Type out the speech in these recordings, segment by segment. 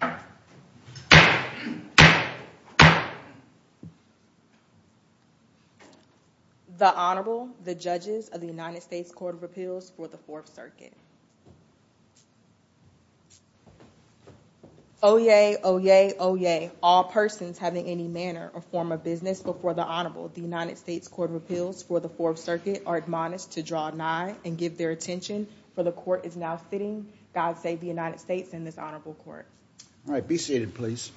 The Honorable, the Judges of the United States Court of Appeals for the Fourth Circuit. Oyez! Oyez! Oyez! All persons having any manner or form of business before the Honorable, the United States Court of Appeals for the Fourth Circuit, are admonished to draw nigh and give their attention, for the Court is now sitting, God save the United States, in his Honorable Court. All right, be seated, please.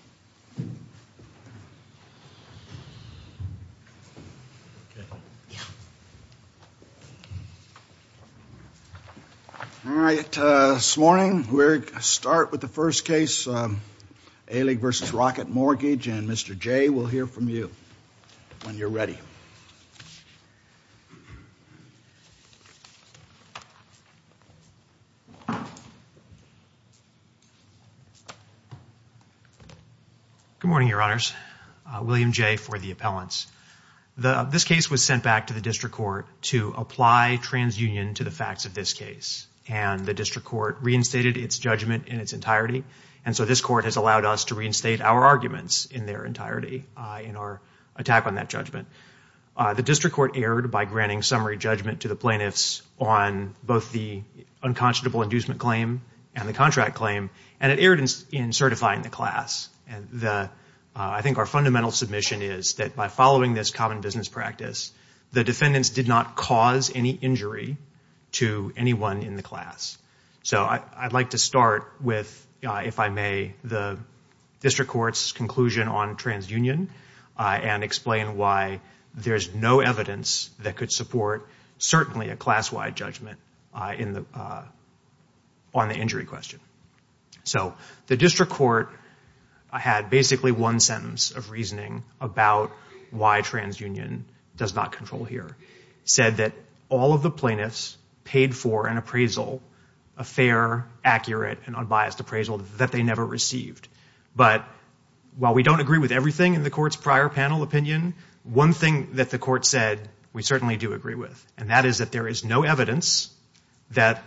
All right, this morning we're going to start with the first case, Alig v. Rocket Mortgage, and Mr. Jay will hear from you when you're ready. Good morning, Your Honors. William Jay for the appellants. This case was sent back to the district court to apply transunion to the facts of this case, and the district court reinstated its judgment in its entirety, and so this court has allowed us to reinstate our arguments in their entirety in our attack on that judgment. The district court erred by granting summary judgment to the plaintiffs on both the unconscionable inducement claim and the contract claim, and it erred in certifying the class. I think our fundamental submission is that by following this common business practice, the defendants did not cause any injury to anyone in the class. So I'd like to start with, if I may, the district court's conclusion on transunion and explain why there's no evidence that could support certainly a class-wide judgment on the injury question. So the district court had basically one sentence of reasoning about why transunion does not control here, said that all of the plaintiffs paid for an appraisal, a fair, accurate, and unbiased appraisal that they never received. But while we don't agree with everything in the court's prior panel opinion, one thing that the court said we certainly do agree with, and that is that there is no evidence that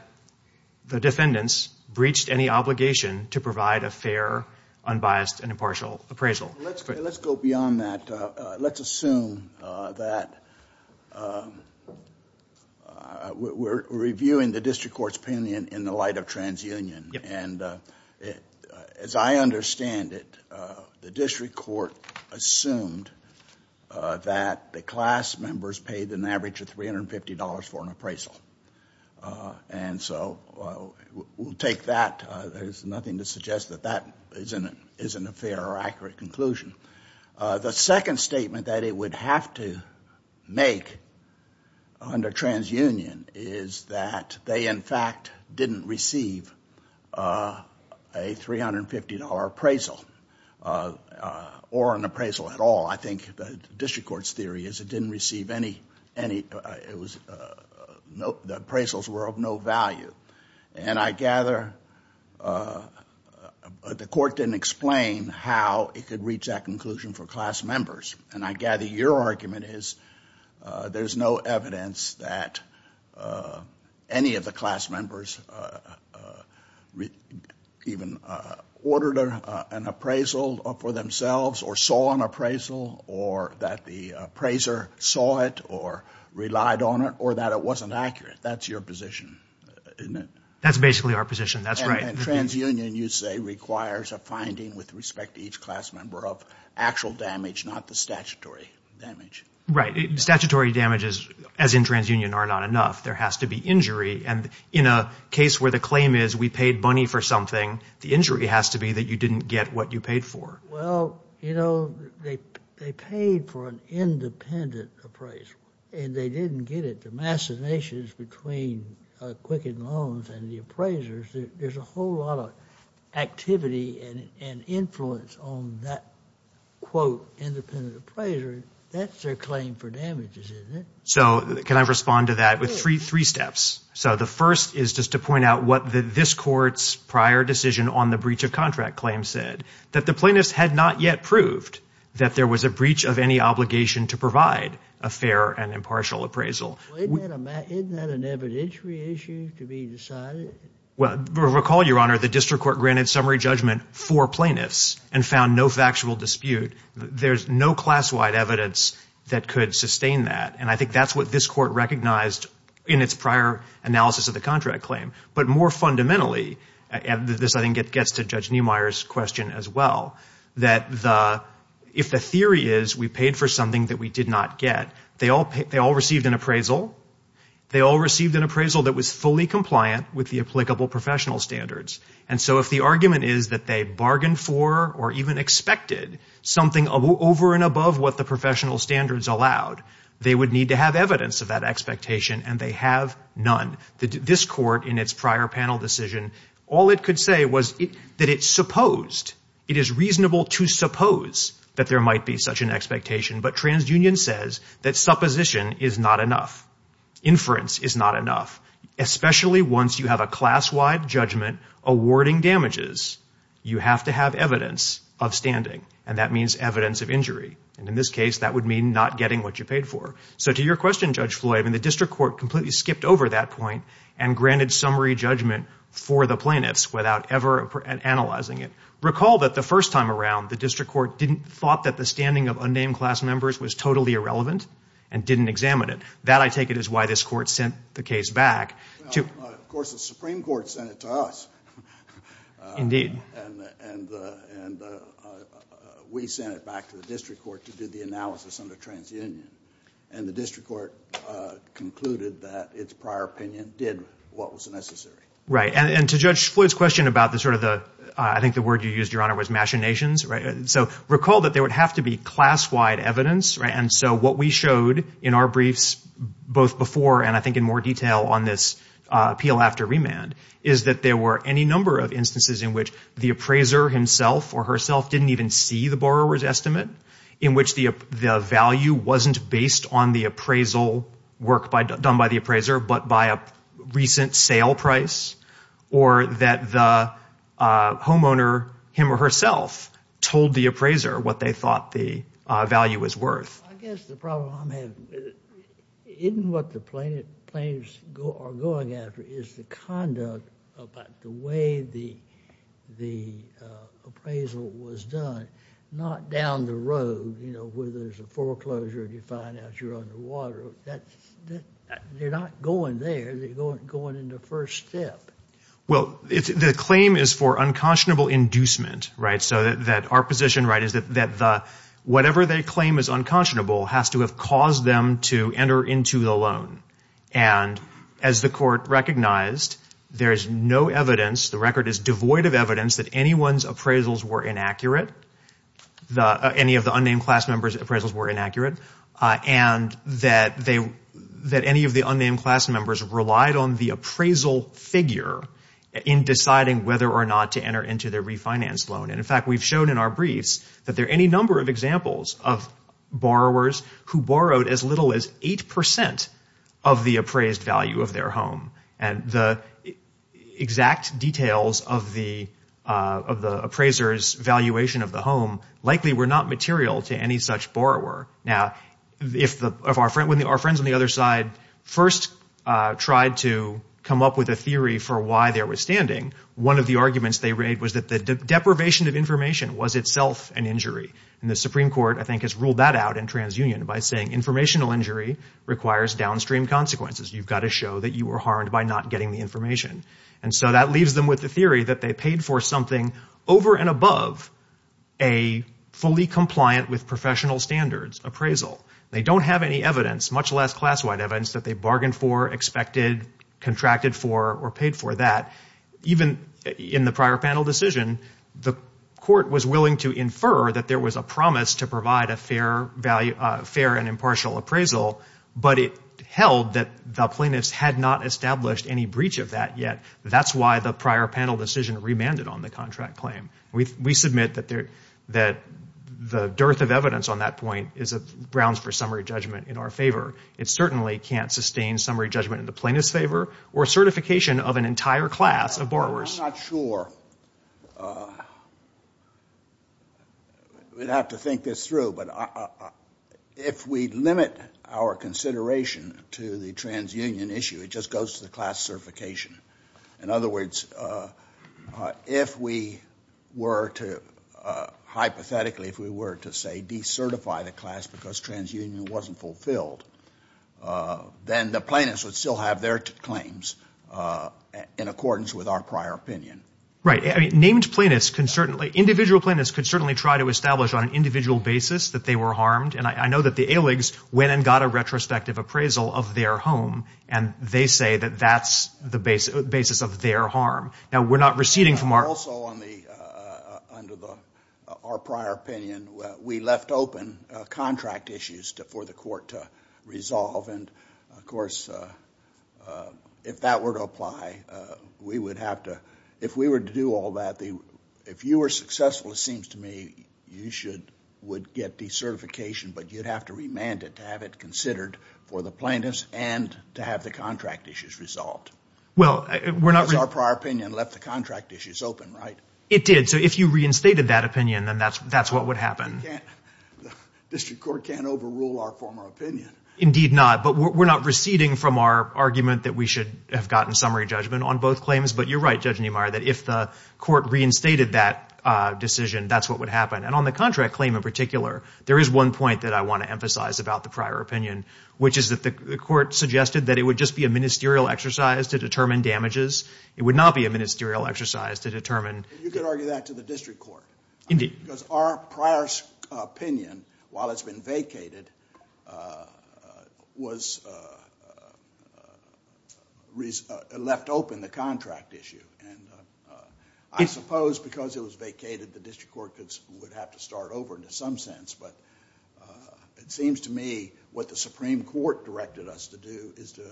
the defendants breached any obligation to provide a fair, unbiased, and impartial appraisal. Let's go beyond that. Let's assume that we're reviewing the district court's opinion in the light of transunion. And as I understand it, the district court assumed that the class members paid an average of $350 for an appraisal. And so we'll take that. There's nothing to suggest that that isn't a fair or accurate conclusion. The second statement that it would have to make under transunion is that they, in fact, didn't receive a $350 appraisal or an appraisal at all. I think the district court's theory is it didn't receive any. The appraisals were of no value. And I gather the court didn't explain how it could reach that conclusion for class members. And I gather your argument is there's no evidence that any of the class members even ordered an appraisal for themselves or saw an appraisal or that the appraiser saw it or relied on it or that it wasn't accurate. That's your position, isn't it? That's basically our position. That's right. And transunion, you say, requires a finding with respect to each class member of actual damage, not the statutory damage. Right. Statutory damages, as in transunion, are not enough. There has to be injury. And in a case where the claim is we paid money for something, the injury has to be that you didn't get what you paid for. Well, you know, they paid for an independent appraisal, and they didn't get it. The massive issues between Quicken Loans and the appraisers, there's a whole lot of activity and influence on that, quote, independent appraiser. That's their claim for damages, isn't it? So can I respond to that with three steps? So the first is just to point out what this court's prior decision on the breach of contract claim said, that the plaintiffs had not yet proved that there was a breach of any obligation to provide a fair and impartial appraisal. Isn't that an evidentiary issue to be decided? Well, recall, Your Honor, the district court granted summary judgment for plaintiffs and found no factual dispute. There's no class-wide evidence that could sustain that. And I think that's what this court recognized in its prior analysis of the contract claim. But more fundamentally, and this, I think, gets to Judge Neumeier's question as well, that if the theory is we paid for something that we did not get, they all received an appraisal. They all received an appraisal that was fully compliant with the applicable professional standards. And so if the argument is that they bargained for or even expected something over and above what the professional standards allowed, they would need to have evidence of that expectation. And they have none. This court, in its prior panel decision, all it could say was that it supposed, it is reasonable to suppose that there might be such an expectation. But TransUnion says that supposition is not enough. Inference is not enough, especially once you have a class-wide judgment awarding damages. You have to have evidence of standing, and that means evidence of injury. And in this case, that would mean not getting what you paid for. So to your question, Judge Floyd, the district court completely skipped over that point and granted summary judgment for the plaintiffs without ever analyzing it. Recall that the first time around, the district court didn't, thought that the standing of unnamed class members was totally irrelevant and didn't examine it. That, I take it, is why this court sent the case back. Well, of course, the Supreme Court sent it to us. And we sent it back to the district court to do the analysis under TransUnion. And the district court concluded that its prior opinion did what was necessary. Right. And to Judge Floyd's question about the sort of the, I think the word you used, Your Honor, was machinations, so recall that there would have to be class-wide evidence. Right. And so what we showed in our briefs both before and I think in more detail on this appeal after remand is that there were any number of instances in which the appraiser himself or herself didn't even see the borrower's estimate, in which the value wasn't based on the appraisal work done by the appraiser but by a recent sale price, or that the homeowner, him or herself, told the appraiser what they thought the value was worth. I guess the problem I'm having, isn't what the plaintiffs are going after is the conduct about the way the appraisal was done, not down the road, you know, where there's a foreclosure and you find out you're underwater. They're not going there. They're going in the first step. Well, the claim is for unconscionable inducement, right, so that our position, right, is that whatever they claim is unconscionable has to have caused them to enter into the loan. And as the court recognized, there is no evidence, the record is devoid of evidence, that anyone's appraisals were inaccurate, any of the unnamed class members' appraisals were inaccurate, and that any of the unnamed class members relied on the appraisal figure in deciding whether or not to enter into their refinance loan. And, in fact, we've shown in our briefs that there are any number of examples of borrowers who borrowed as little as 8% of the appraised value of their home, and the exact details of the appraiser's valuation of the home likely were not material to any such borrower. Now, if our friends on the other side first tried to come up with a theory for why they were standing, one of the arguments they made was that the deprivation of information was itself an injury. And the Supreme Court, I think, has ruled that out in TransUnion by saying informational injury requires downstream consequences. You've got to show that you were harmed by not getting the information. And so that leaves them with the theory that they paid for something over and above a fully compliant with professional standards appraisal. They don't have any evidence, much less class-wide evidence, that they bargained for, expected, contracted for, or paid for that. Even in the prior panel decision, the court was willing to infer that there was a promise to provide a fair and impartial appraisal, but it held that the plaintiffs had not established any breach of that yet. That's why the prior panel decision remanded on the contract claim. We submit that the dearth of evidence on that point grounds for summary judgment in our favor. It certainly can't sustain summary judgment in the plaintiff's favor or certification of an entire class of borrowers. I'm not sure. We'd have to think this through, but if we limit our consideration to the TransUnion issue, it just goes to the class certification. In other words, if we were to, hypothetically, if we were to, say, decertify the class because TransUnion wasn't fulfilled, then the plaintiffs would still have their claims in accordance with our prior opinion. Right. Named plaintiffs can certainly, individual plaintiffs could certainly try to establish on an individual basis that they were harmed. And I know that the AILGS went and got a retrospective appraisal of their home, and they say that that's the basis of their harm. Now, we're not receding from our- Also, under our prior opinion, we left open contract issues for the court to resolve. And, of course, if that were to apply, we would have to, if we were to do all that, if you were successful, it seems to me, you would get decertification, but you'd have to remand it to have it considered for the plaintiffs and to have the contract issues resolved. Well, we're not- Because our prior opinion left the contract issues open, right? It did. So if you reinstated that opinion, then that's what would happen. The district court can't overrule our former opinion. Indeed not. But we're not receding from our argument that we should have gotten summary judgment on both claims. But you're right, Judge Niemeyer, that if the court reinstated that decision, that's what would happen. And on the contract claim in particular, there is one point that I want to emphasize about the prior opinion, which is that the court suggested that it would just be a ministerial exercise to determine damages. It would not be a ministerial exercise to determine- You could argue that to the district court. Indeed. Because our prior opinion, while it's been vacated, was left open, the contract issue. And I suppose because it was vacated, the district court would have to start over in some sense. But it seems to me what the Supreme Court directed us to do is to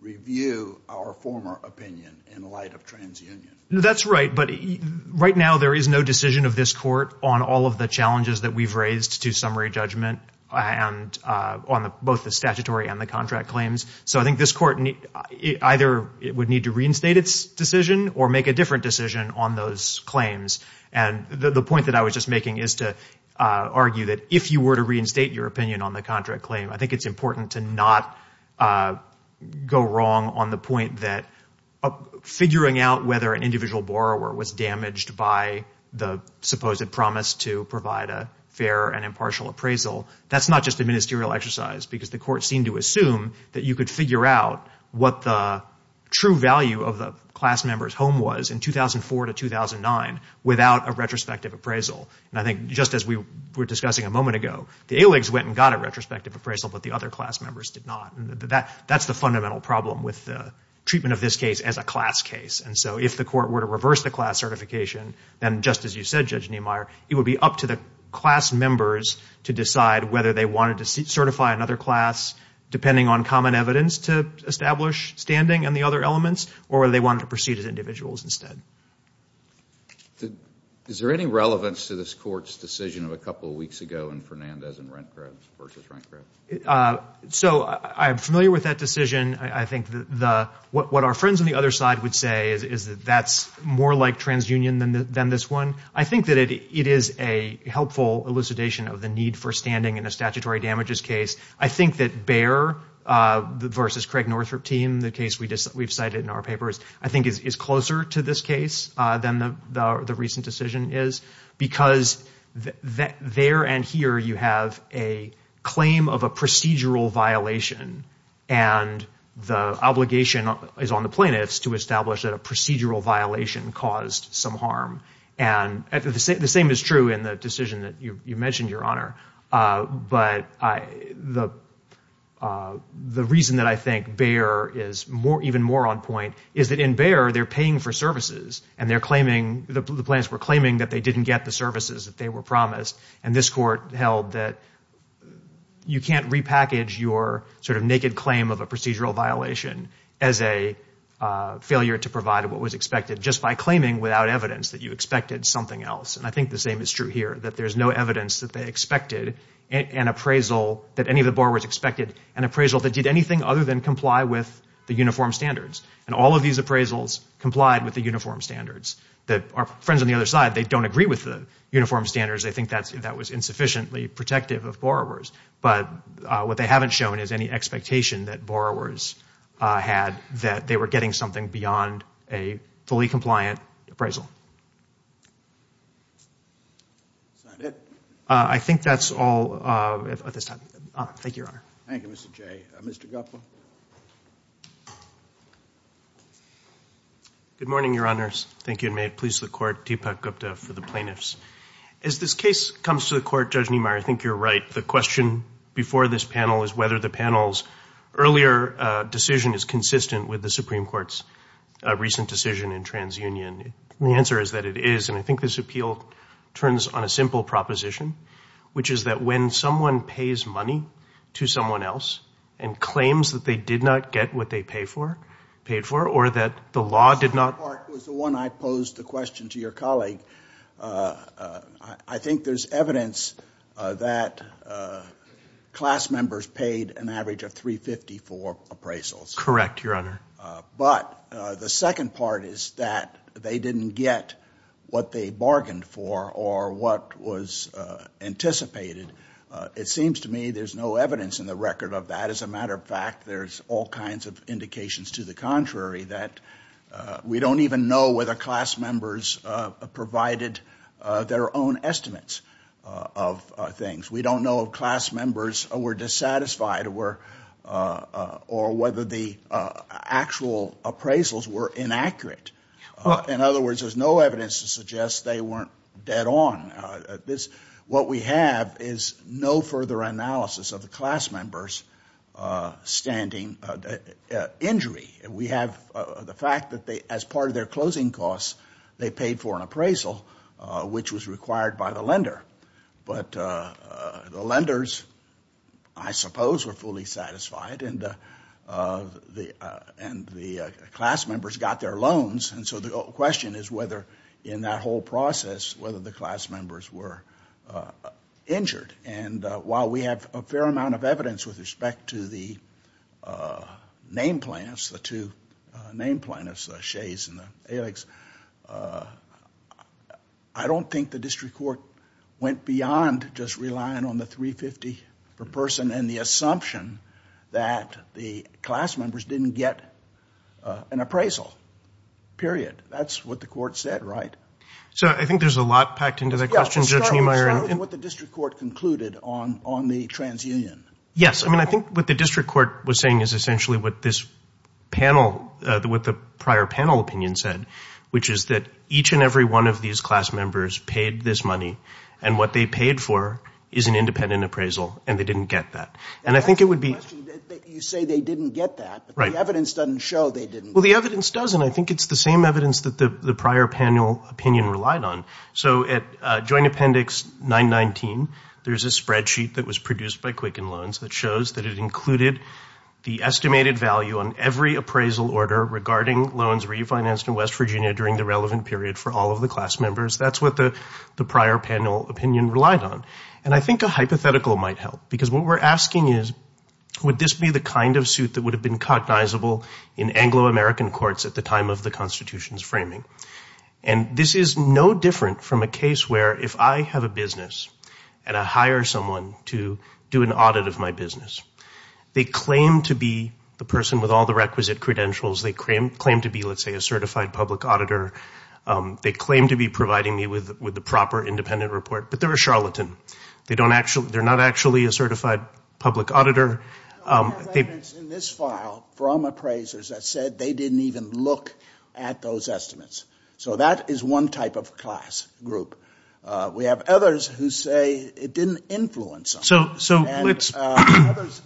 review our former opinion in light of TransUnion. That's right. But right now there is no decision of this court on all of the challenges that we've raised to summary judgment on both the statutory and the contract claims. So I think this court either would need to reinstate its decision or make a different decision on those claims. And the point that I was just making is to argue that if you were to reinstate your opinion on the contract claim, I think it's important to not go wrong on the point that figuring out whether an individual borrower was damaged by the supposed promise to provide a fair and impartial appraisal, that's not just a ministerial exercise. Because the court seemed to assume that you could figure out what the true value of the class member's home was in 2004 to 2009 without a retrospective appraisal. And I think just as we were discussing a moment ago, the ALEGS went and got a retrospective appraisal, but the other class members did not. That's the fundamental problem with the treatment of this case as a class case. And so if the court were to reverse the class certification, then just as you said, Judge Niemeyer, it would be up to the class members to decide whether they wanted to certify another class, depending on common evidence to establish standing and the other elements, or whether they wanted to proceed as individuals instead. Is there any relevance to this court's decision of a couple of weeks ago in Fernandez and Rentgrub versus Rentgrub? So I'm familiar with that decision. I think what our friends on the other side would say is that that's more like transunion than this one. I think that it is a helpful elucidation of the need for standing in a statutory damages case. I think that Baer versus Craig Northrup team, the case we've cited in our papers, I think is closer to this case than the recent decision is, because there and here you have a claim of a procedural violation, and the obligation is on the plaintiffs to establish that a procedural violation caused some harm. The same is true in the decision that you mentioned, Your Honor. But the reason that I think Baer is even more on point is that in Baer, they're paying for services, and the plaintiffs were claiming that they didn't get the services that they were promised, and this court held that you can't repackage your sort of naked claim of a procedural violation as a failure to provide what was expected just by claiming without evidence that you expected something else. And I think the same is true here, that there's no evidence that they expected an appraisal that any of the borrowers expected, an appraisal that did anything other than comply with the uniform standards. And all of these appraisals complied with the uniform standards. Our friends on the other side, they don't agree with the uniform standards. They think that was insufficiently protective of borrowers, but what they haven't shown is any expectation that borrowers had that they were getting something beyond a fully compliant appraisal. Is that it? I think that's all at this time. Thank you, Your Honor. Thank you, Mr. Jay. Mr. Gupta? Good morning, Your Honors. Thank you, and may it please the Court, Deepak Gupta for the plaintiffs. As this case comes to the Court, Judge Niemeyer, I think you're right. The question before this panel is whether the panel's earlier decision is consistent with the Supreme Court's recent decision in TransUnion. The answer is that it is, and I think this appeal turns on a simple proposition, which is that when someone pays money to someone else and claims that they did not get what they paid for or that the law did not This part was the one I posed the question to your colleague. I think there's evidence that class members paid an average of $350 for appraisals. Correct, Your Honor. But the second part is that they didn't get what they bargained for or what was anticipated. It seems to me there's no evidence in the record of that. As a matter of fact, there's all kinds of indications to the contrary, that we don't even know whether class members provided their own estimates of things. We don't know if class members were dissatisfied or whether the actual appraisals were inaccurate. In other words, there's no evidence to suggest they weren't dead on. What we have is no further analysis of the class members' standing injury. We have the fact that as part of their closing costs, they paid for an appraisal, which was required by the lender. But the lenders, I suppose, were fully satisfied and the class members got their loans. And so the question is whether in that whole process, whether the class members were injured. And while we have a fair amount of evidence with respect to the name plaintiffs, the two name plaintiffs, the Shays and the Elegs, I don't think the district court went beyond just relying on the 350 per person and the assumption that the class members didn't get an appraisal, period. That's what the court said, right? So I think there's a lot packed into that question, Judge Neumeier. Well, it started with what the district court concluded on the transunion. Yes. I mean, I think what the district court was saying is essentially what this panel, what the prior panel opinion said, which is that each and every one of these class members paid this money and what they paid for is an independent appraisal and they didn't get that. And I think it would be – That's the question. You say they didn't get that, but the evidence doesn't show they didn't. Well, the evidence doesn't. I think it's the same evidence that the prior panel opinion relied on. So at Joint Appendix 919, there's a spreadsheet that was produced by Quicken Loans that shows that it included the estimated value on every appraisal order regarding loans refinanced in West Virginia during the relevant period for all of the class members. That's what the prior panel opinion relied on. And I think a hypothetical might help because what we're asking is, would this be the kind of suit that would have been cognizable in Anglo-American courts at the time of the Constitution's framing? And this is no different from a case where if I have a business and I hire someone to do an audit of my business, they claim to be the person with all the requisite credentials. They claim to be, let's say, a certified public auditor. They claim to be providing me with the proper independent report, but they're a charlatan. They're not actually a certified public auditor. There are arguments in this file from appraisers that said they didn't even look at those estimates. So that is one type of class group. We have others who say it didn't influence them.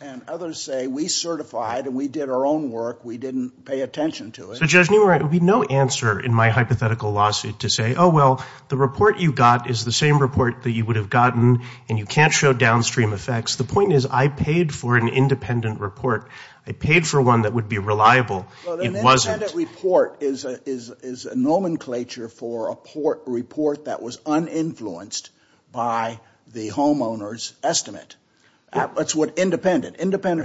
And others say we certified and we did our own work. We didn't pay attention to it. So, Judge Newman, there would be no answer in my hypothetical lawsuit to say, oh, well, the report you got is the same report that you would have gotten and you can't show downstream effects. The point is I paid for an independent report. I paid for one that would be reliable. It wasn't. An independent report is a nomenclature for a report that was uninfluenced by the homeowner's estimate. Independent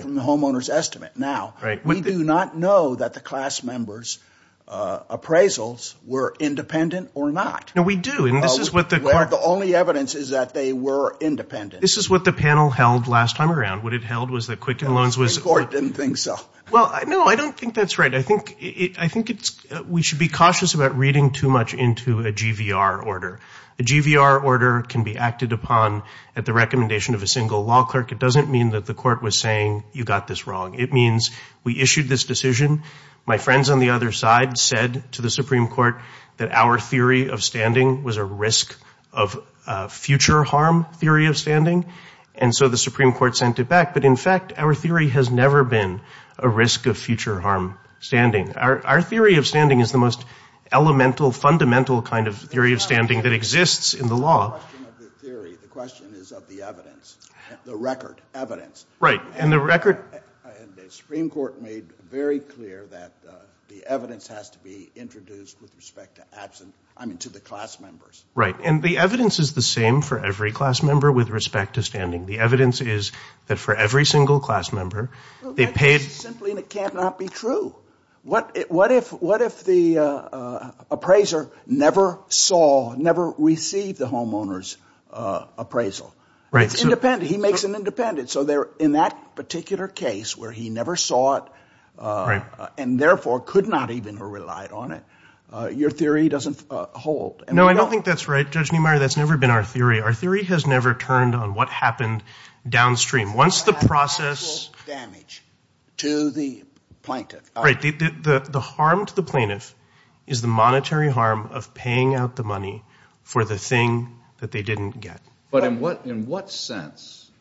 from the homeowner's estimate. Now, we do not know that the class member's appraisals were independent or not. No, we do. The only evidence is that they were independent. This is what the panel held last time around. What it held was that Quicken Loans was the court didn't think so. Well, no, I don't think that's right. I think we should be cautious about reading too much into a GVR order. A GVR order can be acted upon at the recommendation of a single law clerk. It doesn't mean that the court was saying you got this wrong. It means we issued this decision. My friends on the other side said to the Supreme Court that our theory of standing was a risk of future harm theory of standing. And so the Supreme Court sent it back. But, in fact, our theory has never been a risk of future harm standing. Our theory of standing is the most elemental, fundamental kind of theory of standing that exists in the law. The question is of the evidence, the record, evidence. Right, and the record. And the Supreme Court made very clear that the evidence has to be introduced with respect to absent, I mean, to the class members. Right, and the evidence is the same for every class member with respect to standing. The evidence is that for every single class member, they paid. Well, that's simply cannot be true. What if the appraiser never saw, never received the homeowner's appraisal? Right. It's independent. He makes it independent. So in that particular case where he never saw it and, therefore, could not even have relied on it, your theory doesn't hold. No, I don't think that's right, Judge Neumeier. That's never been our theory. Our theory has never turned on what happened downstream. Once the process – The actual damage to the plaintiff. Right. The harm to the plaintiff is the monetary harm of paying out the money for the thing that they didn't get. But in what sense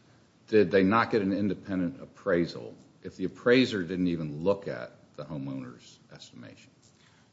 did they not get an independent appraisal if the appraiser didn't even look at the homeowner's estimation?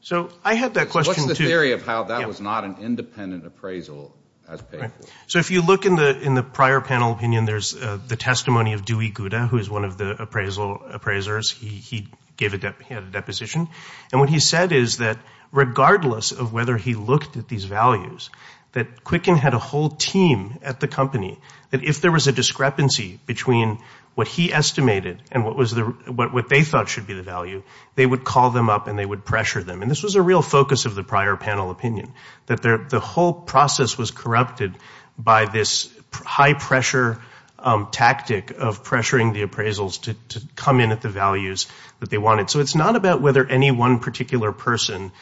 So I had that question, too. The theory of how that was not an independent appraisal as paid for. So if you look in the prior panel opinion, there's the testimony of Dewey Gouda, who is one of the appraisers. He had a deposition. And what he said is that regardless of whether he looked at these values, that Quicken had a whole team at the company that if there was a discrepancy between what he estimated and what they thought should be the value, they would call them up and they would pressure them. And this was a real focus of the prior panel opinion, that the whole process was corrupted by this high-pressure tactic of pressuring the appraisals to come in at the values that they wanted. So it's not about whether any one particular person,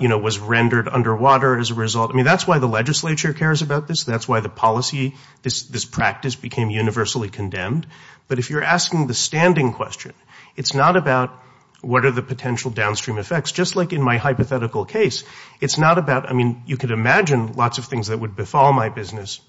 you know, was rendered underwater as a result. I mean, that's why the legislature cares about this. That's why the policy, this practice became universally condemned. But if you're asking the standing question, it's not about what are the potential downstream effects. Just like in my hypothetical case, it's not about, I mean, you could imagine lots of things that would befall my business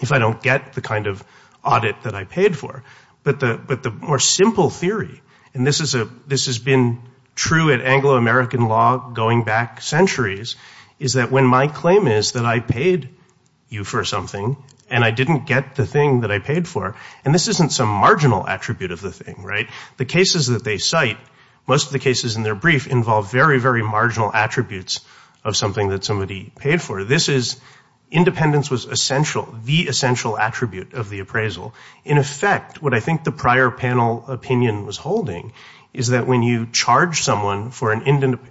if I don't get the kind of audit that I paid for. But the more simple theory, and this has been true at Anglo-American law going back centuries, is that when my claim is that I paid you for something and I didn't get the thing that I paid for, and this isn't some marginal attribute of the thing, right? The cases that they cite, most of the cases in their brief involve very, very marginal attributes of something that somebody paid for. This is independence was essential, the essential attribute of the appraisal. In effect, what I think the prior panel opinion was holding is that when you charge someone for an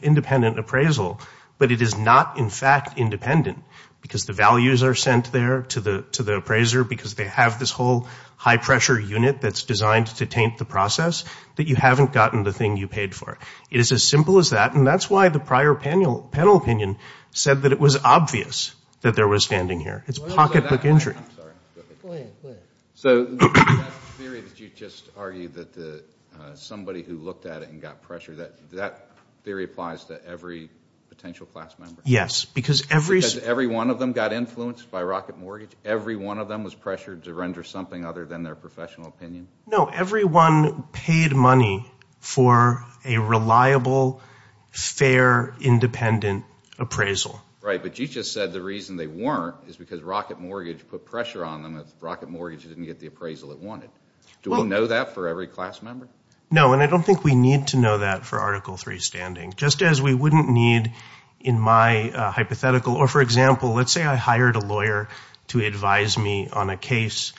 independent appraisal, but it is not in fact independent because the values are sent there to the appraiser because they have this whole high-pressure unit that's designed to taint the process, that you haven't gotten the thing you paid for. It is as simple as that, and that's why the prior panel opinion said that it was obvious that there was standing here. It's pocketbook injury. Go ahead. So that theory that you just argued that somebody who looked at it and got pressure, that theory applies to every potential class member? Yes. Because every one of them got influenced by Rocket Mortgage? Every one of them was pressured to render something other than their professional opinion? No, everyone paid money for a reliable, fair, independent appraisal. Right, but you just said the reason they weren't is because Rocket Mortgage put pressure on them if Rocket Mortgage didn't get the appraisal it wanted. Do we know that for every class member? No, and I don't think we need to know that for Article III standing, just as we wouldn't need in my hypothetical. Or, for example, let's say I hired a lawyer to advise me on a case.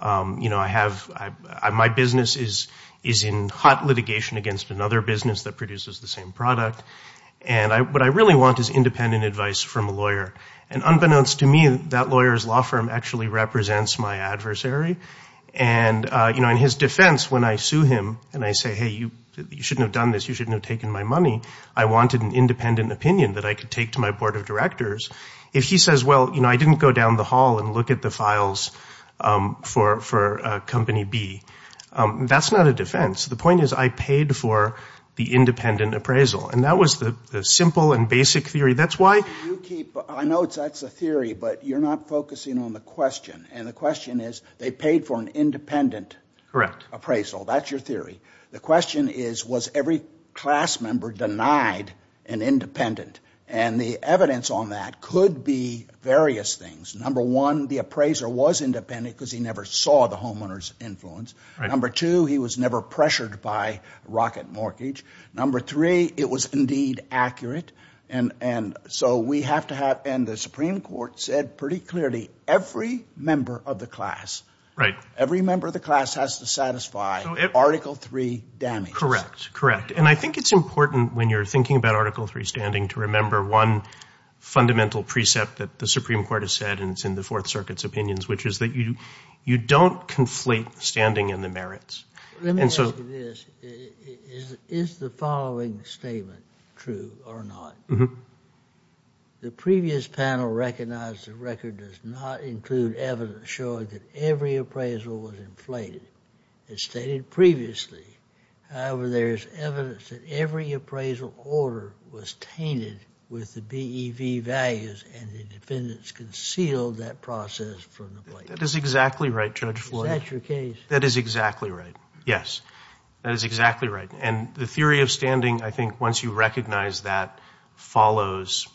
My business is in hot litigation against another business that produces the same product, and what I really want is independent advice from a lawyer. And unbeknownst to me, that lawyer's law firm actually represents my adversary, and in his defense, when I sue him and I say, hey, you shouldn't have done this, you shouldn't have taken my money, I wanted an independent opinion that I could take to my board of directors, if he says, well, I didn't go down the hall and look at the files for Company B, that's not a defense. The point is I paid for the independent appraisal. And that was the simple and basic theory. That's why you keep, I know that's a theory, but you're not focusing on the question, and the question is they paid for an independent appraisal. That's your theory. The question is, was every class member denied an independent? And the evidence on that could be various things. Number one, the appraiser was independent because he never saw the homeowner's influence. Number two, he was never pressured by rocket mortgage. Number three, it was indeed accurate. And so we have to have, and the Supreme Court said pretty clearly, every member of the class, every member of the class has to satisfy Article III damages. And I think it's important when you're thinking about Article III standing to remember one fundamental precept that the Supreme Court has said, and it's in the Fourth Circuit's opinions, which is that you don't conflate standing and the merits. Let me say this. Is the following statement true or not? The previous panel recognized the record does not include evidence that every appraisal was inflated. It's stated previously. However, there's evidence that every appraisal order was tainted with the BEV values and the defendants concealed that process from the plaintiffs. That is exactly right, Judge Floyd. Is that your case? That is exactly right, yes. That is exactly right. And the theory of standing, I think, once you recognize that, follows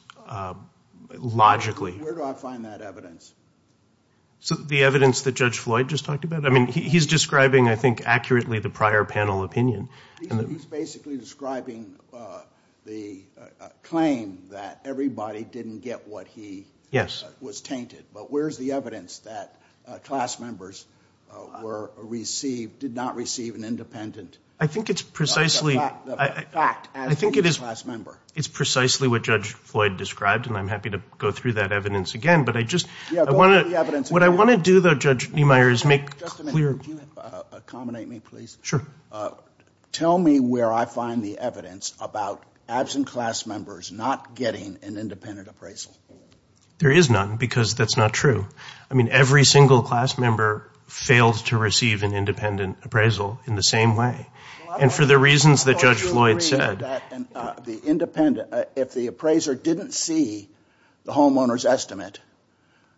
logically. Where do I find that evidence? So the evidence that Judge Floyd just talked about? I mean, he's describing, I think, accurately the prior panel opinion. He's basically describing the claim that everybody didn't get what he was tainted. But where's the evidence that class members were received, did not receive an independent fact as a new class member? I think it's precisely what Judge Floyd described, and I'm happy to go through that evidence again. But what I want to do, though, Judge Niemeyer, is make clear. Could you accommodate me, please? Sure. Tell me where I find the evidence about absent class members not getting an independent appraisal. There is none because that's not true. I mean, every single class member failed to receive an independent appraisal in the same way. And for the reasons that Judge Floyd said. If the appraiser didn't see the homeowner's estimate,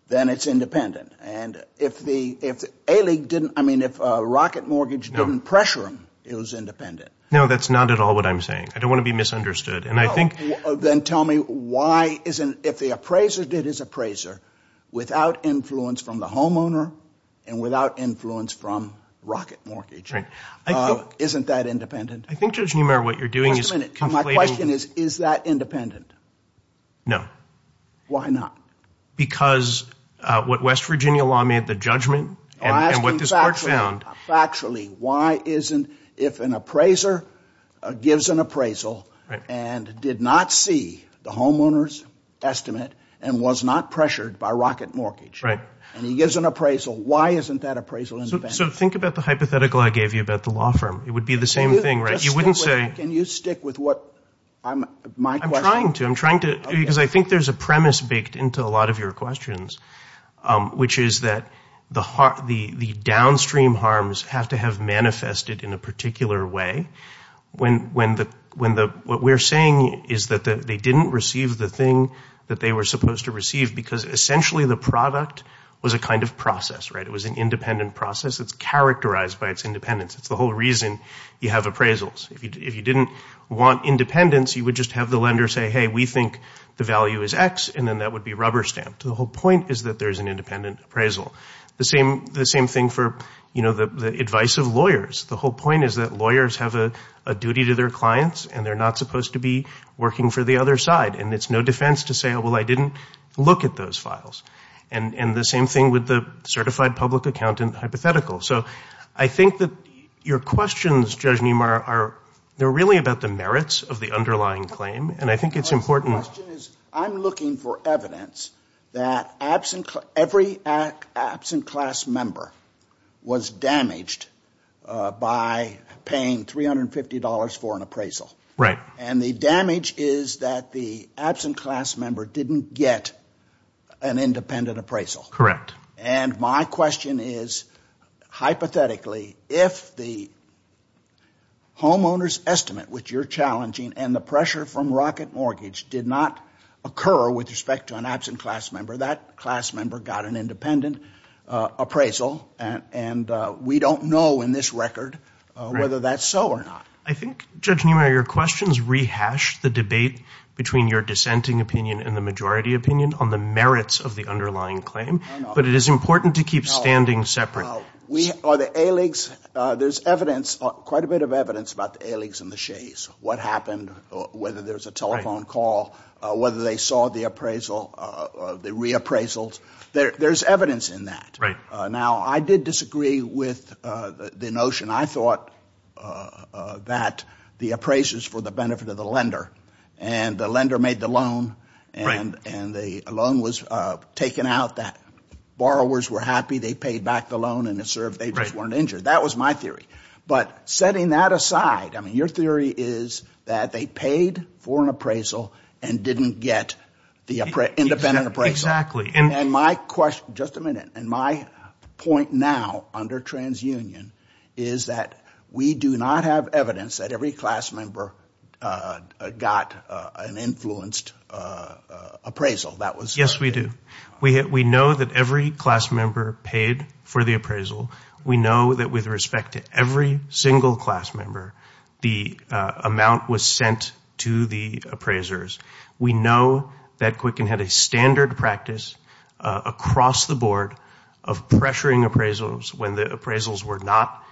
then it's independent. And if A-League didn't, I mean, if Rocket Mortgage didn't pressure them, it was independent. No, that's not at all what I'm saying. I don't want to be misunderstood. Then tell me why, if the appraiser did his appraiser without influence from the homeowner and without influence from Rocket Mortgage, isn't that independent? I think, Judge Niemeyer, what you're doing is conflating. My question is, is that independent? No. Why not? Because what West Virginia law made the judgment and what this court found. Factually, why isn't, if an appraiser gives an appraisal and did not see the homeowner's estimate and was not pressured by Rocket Mortgage. Right. And he gives an appraisal, why isn't that appraisal independent? So think about the hypothetical I gave you about the law firm. It would be the same thing, right? You wouldn't say— Can you stick with what my question— I'm trying to. I'm trying to because I think there's a premise baked into a lot of your questions, which is that the downstream harms have to have manifested in a particular way. What we're saying is that they didn't receive the thing that they were supposed to receive because essentially the product was a kind of process, right? It was an independent process. It's characterized by its independence. It's the whole reason you have appraisals. If you didn't want independence, you would just have the lender say, hey, we think the value is X, and then that would be rubber stamped. The whole point is that there's an independent appraisal. The same thing for the advice of lawyers. The whole point is that lawyers have a duty to their clients and they're not supposed to be working for the other side. And it's no defense to say, well, I didn't look at those files. And the same thing with the certified public accountant hypothetical. So I think that your questions, Judge Niemeyer, are really about the merits of the underlying claim, and I think it's important. The question is I'm looking for evidence that every absent class member was damaged by paying $350 for an appraisal. Right. And the damage is that the absent class member didn't get an independent appraisal. Correct. And my question is, hypothetically, if the homeowner's estimate, which you're challenging, and the pressure from rocket mortgage did not occur with respect to an absent class member, that class member got an independent appraisal, and we don't know in this record whether that's so or not. I think, Judge Niemeyer, your questions rehash the debate between your dissenting opinion and the majority opinion on the merits of the underlying claim. But it is important to keep standing separate. The ALIGs, there's evidence, quite a bit of evidence about the ALIGs and the Shays, what happened, whether there's a telephone call, whether they saw the reappraisals. There's evidence in that. Right. Now, I did disagree with the notion, I thought, that the appraisers for the benefit of the lender, and the lender made the loan, and the loan was taken out, that borrowers were happy, they paid back the loan, and it served, they just weren't injured. Right. That was my theory. But setting that aside, I mean, your theory is that they paid for an appraisal and didn't get the independent appraisal. Exactly. And my question, just a minute, and my point now under transunion is that we do not have evidence that every class member got an influenced appraisal. Yes, we do. We know that every class member paid for the appraisal. We know that with respect to every single class member, the amount was sent to the appraisers. We know that Quicken had a standard practice across the board of pressuring appraisals when the appraisals were not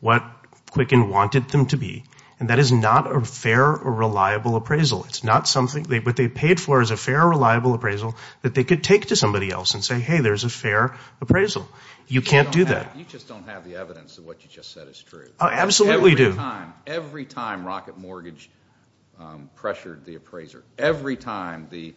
what Quicken wanted them to be, and that is not a fair or reliable appraisal. It's not something, what they paid for is a fair or reliable appraisal that they could take to somebody else and say, hey, there's a fair appraisal. You can't do that. You just don't have the evidence of what you just said is true. I absolutely do. Every time, every time Rocket Mortgage pressured the appraiser, every time the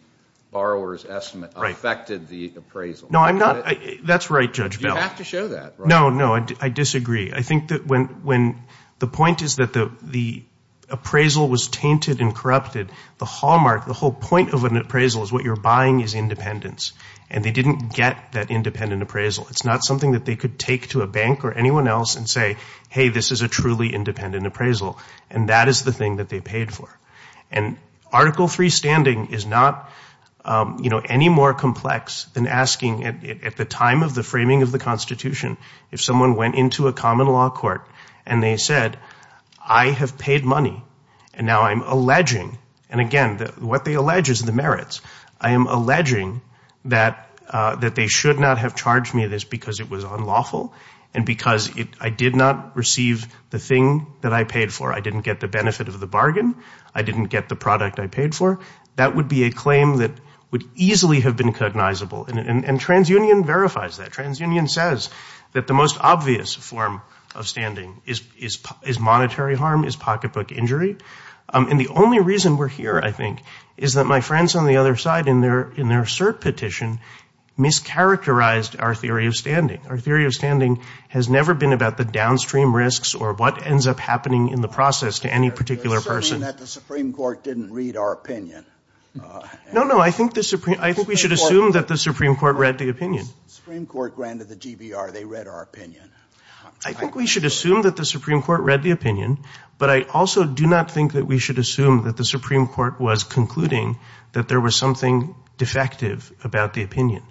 borrower's estimate affected the appraisal. No, I'm not, that's right, Judge Bell. You have to show that. No, no, I disagree. I think that when the point is that the appraisal was tainted and corrupted, the hallmark, the whole point of an appraisal is what you're buying is independence, and they didn't get that independent appraisal. It's not something that they could take to a bank or anyone else and say, hey, this is a truly independent appraisal, and that is the thing that they paid for. And Article III standing is not, you know, any more complex than asking at the time of the framing of the Constitution, if someone went into a common law court and they said, I have paid money, and now I'm alleging, and again, what they allege is the merits. I am alleging that they should not have charged me this because it was unlawful and because I did not receive the thing that I paid for. I didn't get the benefit of the bargain. I didn't get the product I paid for. That would be a claim that would easily have been cognizable, and TransUnion verifies that. TransUnion says that the most obvious form of standing is monetary harm, is pocketbook injury, and the only reason we're here, I think, is that my friends on the other side in their cert petition mischaracterized our theory of standing. Our theory of standing has never been about the downstream risks or what ends up happening in the process to any particular person. You're asserting that the Supreme Court didn't read our opinion. No, no. I think we should assume that the Supreme Court read the opinion. The Supreme Court granted the GBR. They read our opinion. I think we should assume that the Supreme Court read the opinion, but I also do not think that we should assume that the Supreme Court was concluding that there was something defective about the opinion.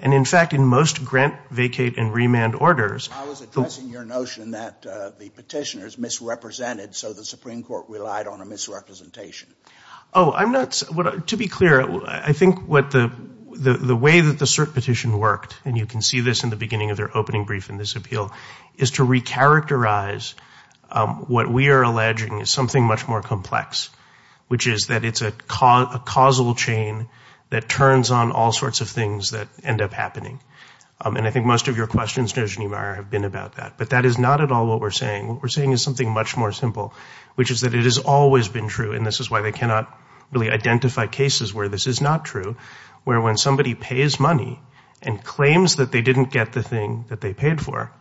And, in fact, in most grant, vacate, and remand orders, I was addressing your notion that the petitioners misrepresented, so the Supreme Court relied on a misrepresentation. Oh, to be clear, I think the way that the cert petition worked, and you can see this in the beginning of their opening brief in this appeal, is to recharacterize what we are alleging is something much more complex, which is that it's a causal chain that turns on all sorts of things that end up happening. And I think most of your questions, Judge Niemeyer, have been about that. But that is not at all what we're saying. What we're saying is something much more simple, which is that it has always been true, and this is why they cannot really identify cases where this is not true, where when somebody pays money and claims that they didn't get the thing that they paid for,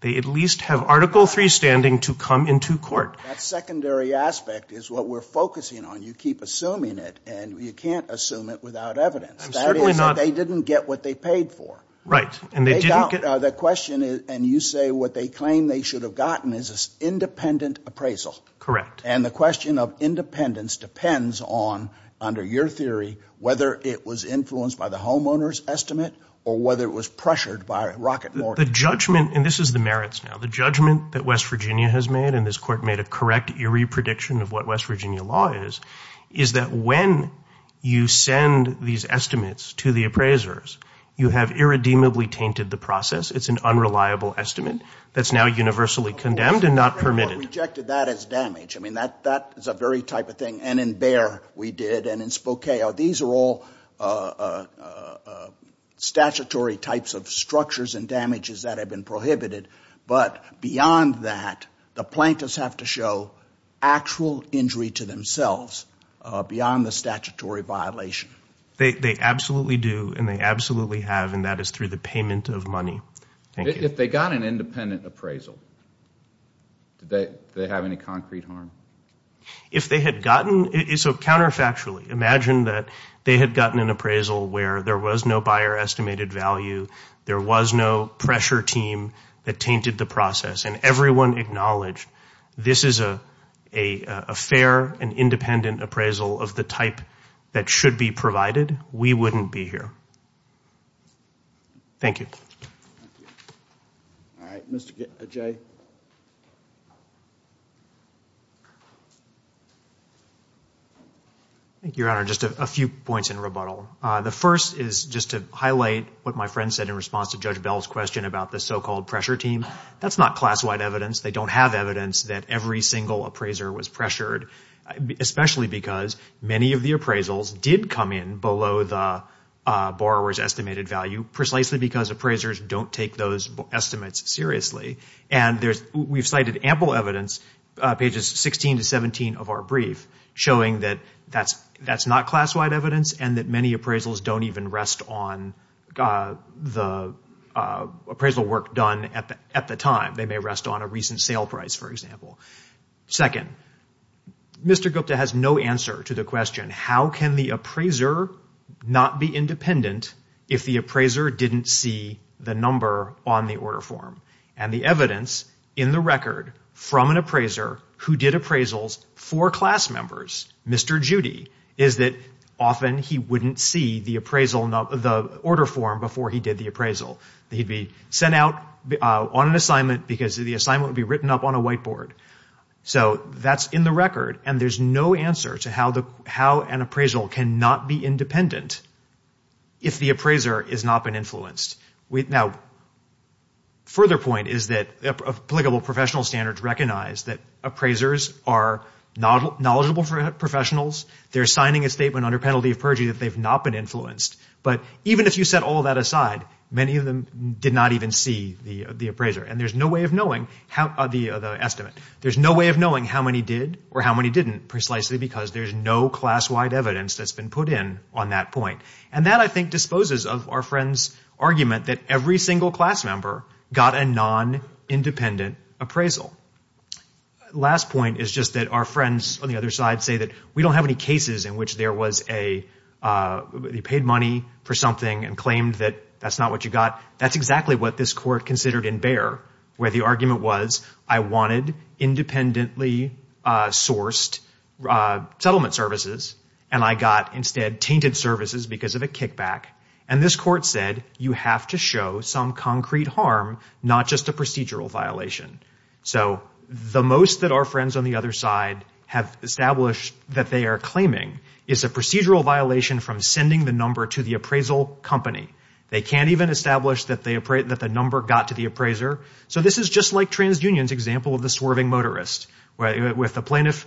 they at least have Article III standing to come into court. That secondary aspect is what we're focusing on. You keep assuming it, and you can't assume it without evidence. That is that they didn't get what they paid for. And they didn't get the question, and you say what they claim they should have gotten is independent appraisal. Correct. And the question of independence depends on, under your theory, whether it was influenced by the homeowner's estimate or whether it was pressured by Rocket Morgan. The judgment, and this is the merits now, the judgment that West Virginia has made, and this Court made a correct, eerie prediction of what West Virginia law is, is that when you send these estimates to the appraisers, you have irredeemably tainted the process. It's an unreliable estimate that's now universally condemned and not permitted. What rejected that is damage. I mean, that is a very type of thing, and in Bayer we did, and in Spokane. These are all statutory types of structures and damages that have been prohibited. But beyond that, the plaintiffs have to show actual injury to themselves beyond the statutory violation. They absolutely do, and they absolutely have, and that is through the payment of money. Thank you. If they got an independent appraisal, did they have any concrete harm? If they had gotten, so counterfactually, imagine that they had gotten an appraisal where there was no Bayer estimated value, there was no pressure team that tainted the process, and everyone acknowledged this is a fair and independent appraisal of the type that should be provided, we wouldn't be here. Thank you. All right, Mr. Jay. Thank you, Your Honor. Just a few points in rebuttal. The first is just to highlight what my friend said in response to Judge Bell's question about the so-called pressure team. That's not class-wide evidence. They don't have evidence that every single appraiser was pressured, especially because many of the appraisals did come in below the borrower's estimated value, precisely because appraisers don't take those estimates seriously. And we've cited ample evidence, pages 16 to 17 of our brief, showing that that's not class-wide evidence and that many appraisals don't even rest on the appraisal work done at the time. They may rest on a recent sale price, for example. Second, Mr. Gupta has no answer to the question, how can the appraiser not be independent if the appraiser didn't see the number on the order form and the evidence in the record from an appraiser who did appraisals for class members, Mr. Judy, is that often he wouldn't see the order form before he did the appraisal. He'd be sent out on an assignment because the assignment would be written up on a whiteboard. So that's in the record and there's no answer to how an appraisal cannot be independent if the appraiser has not been influenced. Now, a further point is that applicable professional standards recognize that appraisers are knowledgeable professionals. They're signing a statement under penalty of perjury that they've not been influenced. But even if you set all that aside, many of them did not even see the appraiser. And there's no way of knowing the estimate. There's no way of knowing how many did or how many didn't, precisely because there's no class-wide evidence that's been put in on that point. And that, I think, disposes of our friend's argument that every single class member got a non-independent appraisal. Last point is just that our friends on the other side say that we don't have any cases in which there was a paid money for something and claimed that that's not what you got. That's exactly what this court considered in Bayer where the argument was, I wanted independently sourced settlement services and I got instead tainted services because of a kickback. And this court said, you have to show some concrete harm, not just a procedural violation. So the most that our friends on the other side have established that they are claiming is a procedural violation from sending the number to the appraisal company. They can't even establish that the number got to the appraiser. So this is just like TransUnion's example of the swerving motorist, where if the plaintiff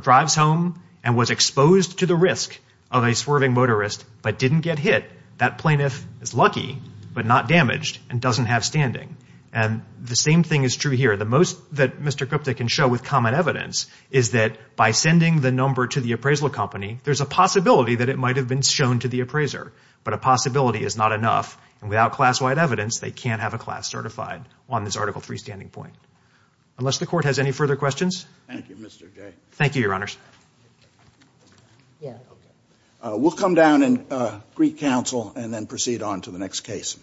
drives home and was exposed to the risk of a swerving motorist but didn't get hit, that plaintiff is lucky but not damaged and doesn't have standing. And the same thing is true here. The most that Mr. Gupta can show with common evidence is that by sending the number to the appraisal company, there's a possibility that it might have been shown to the appraiser. But a possibility is not enough. And without class-wide evidence, they can't have a class certified on this Article III standing point. Unless the court has any further questions. Thank you, Mr. Jay. Thank you, Your Honors. We'll come down and greet counsel and then proceed on to the next case.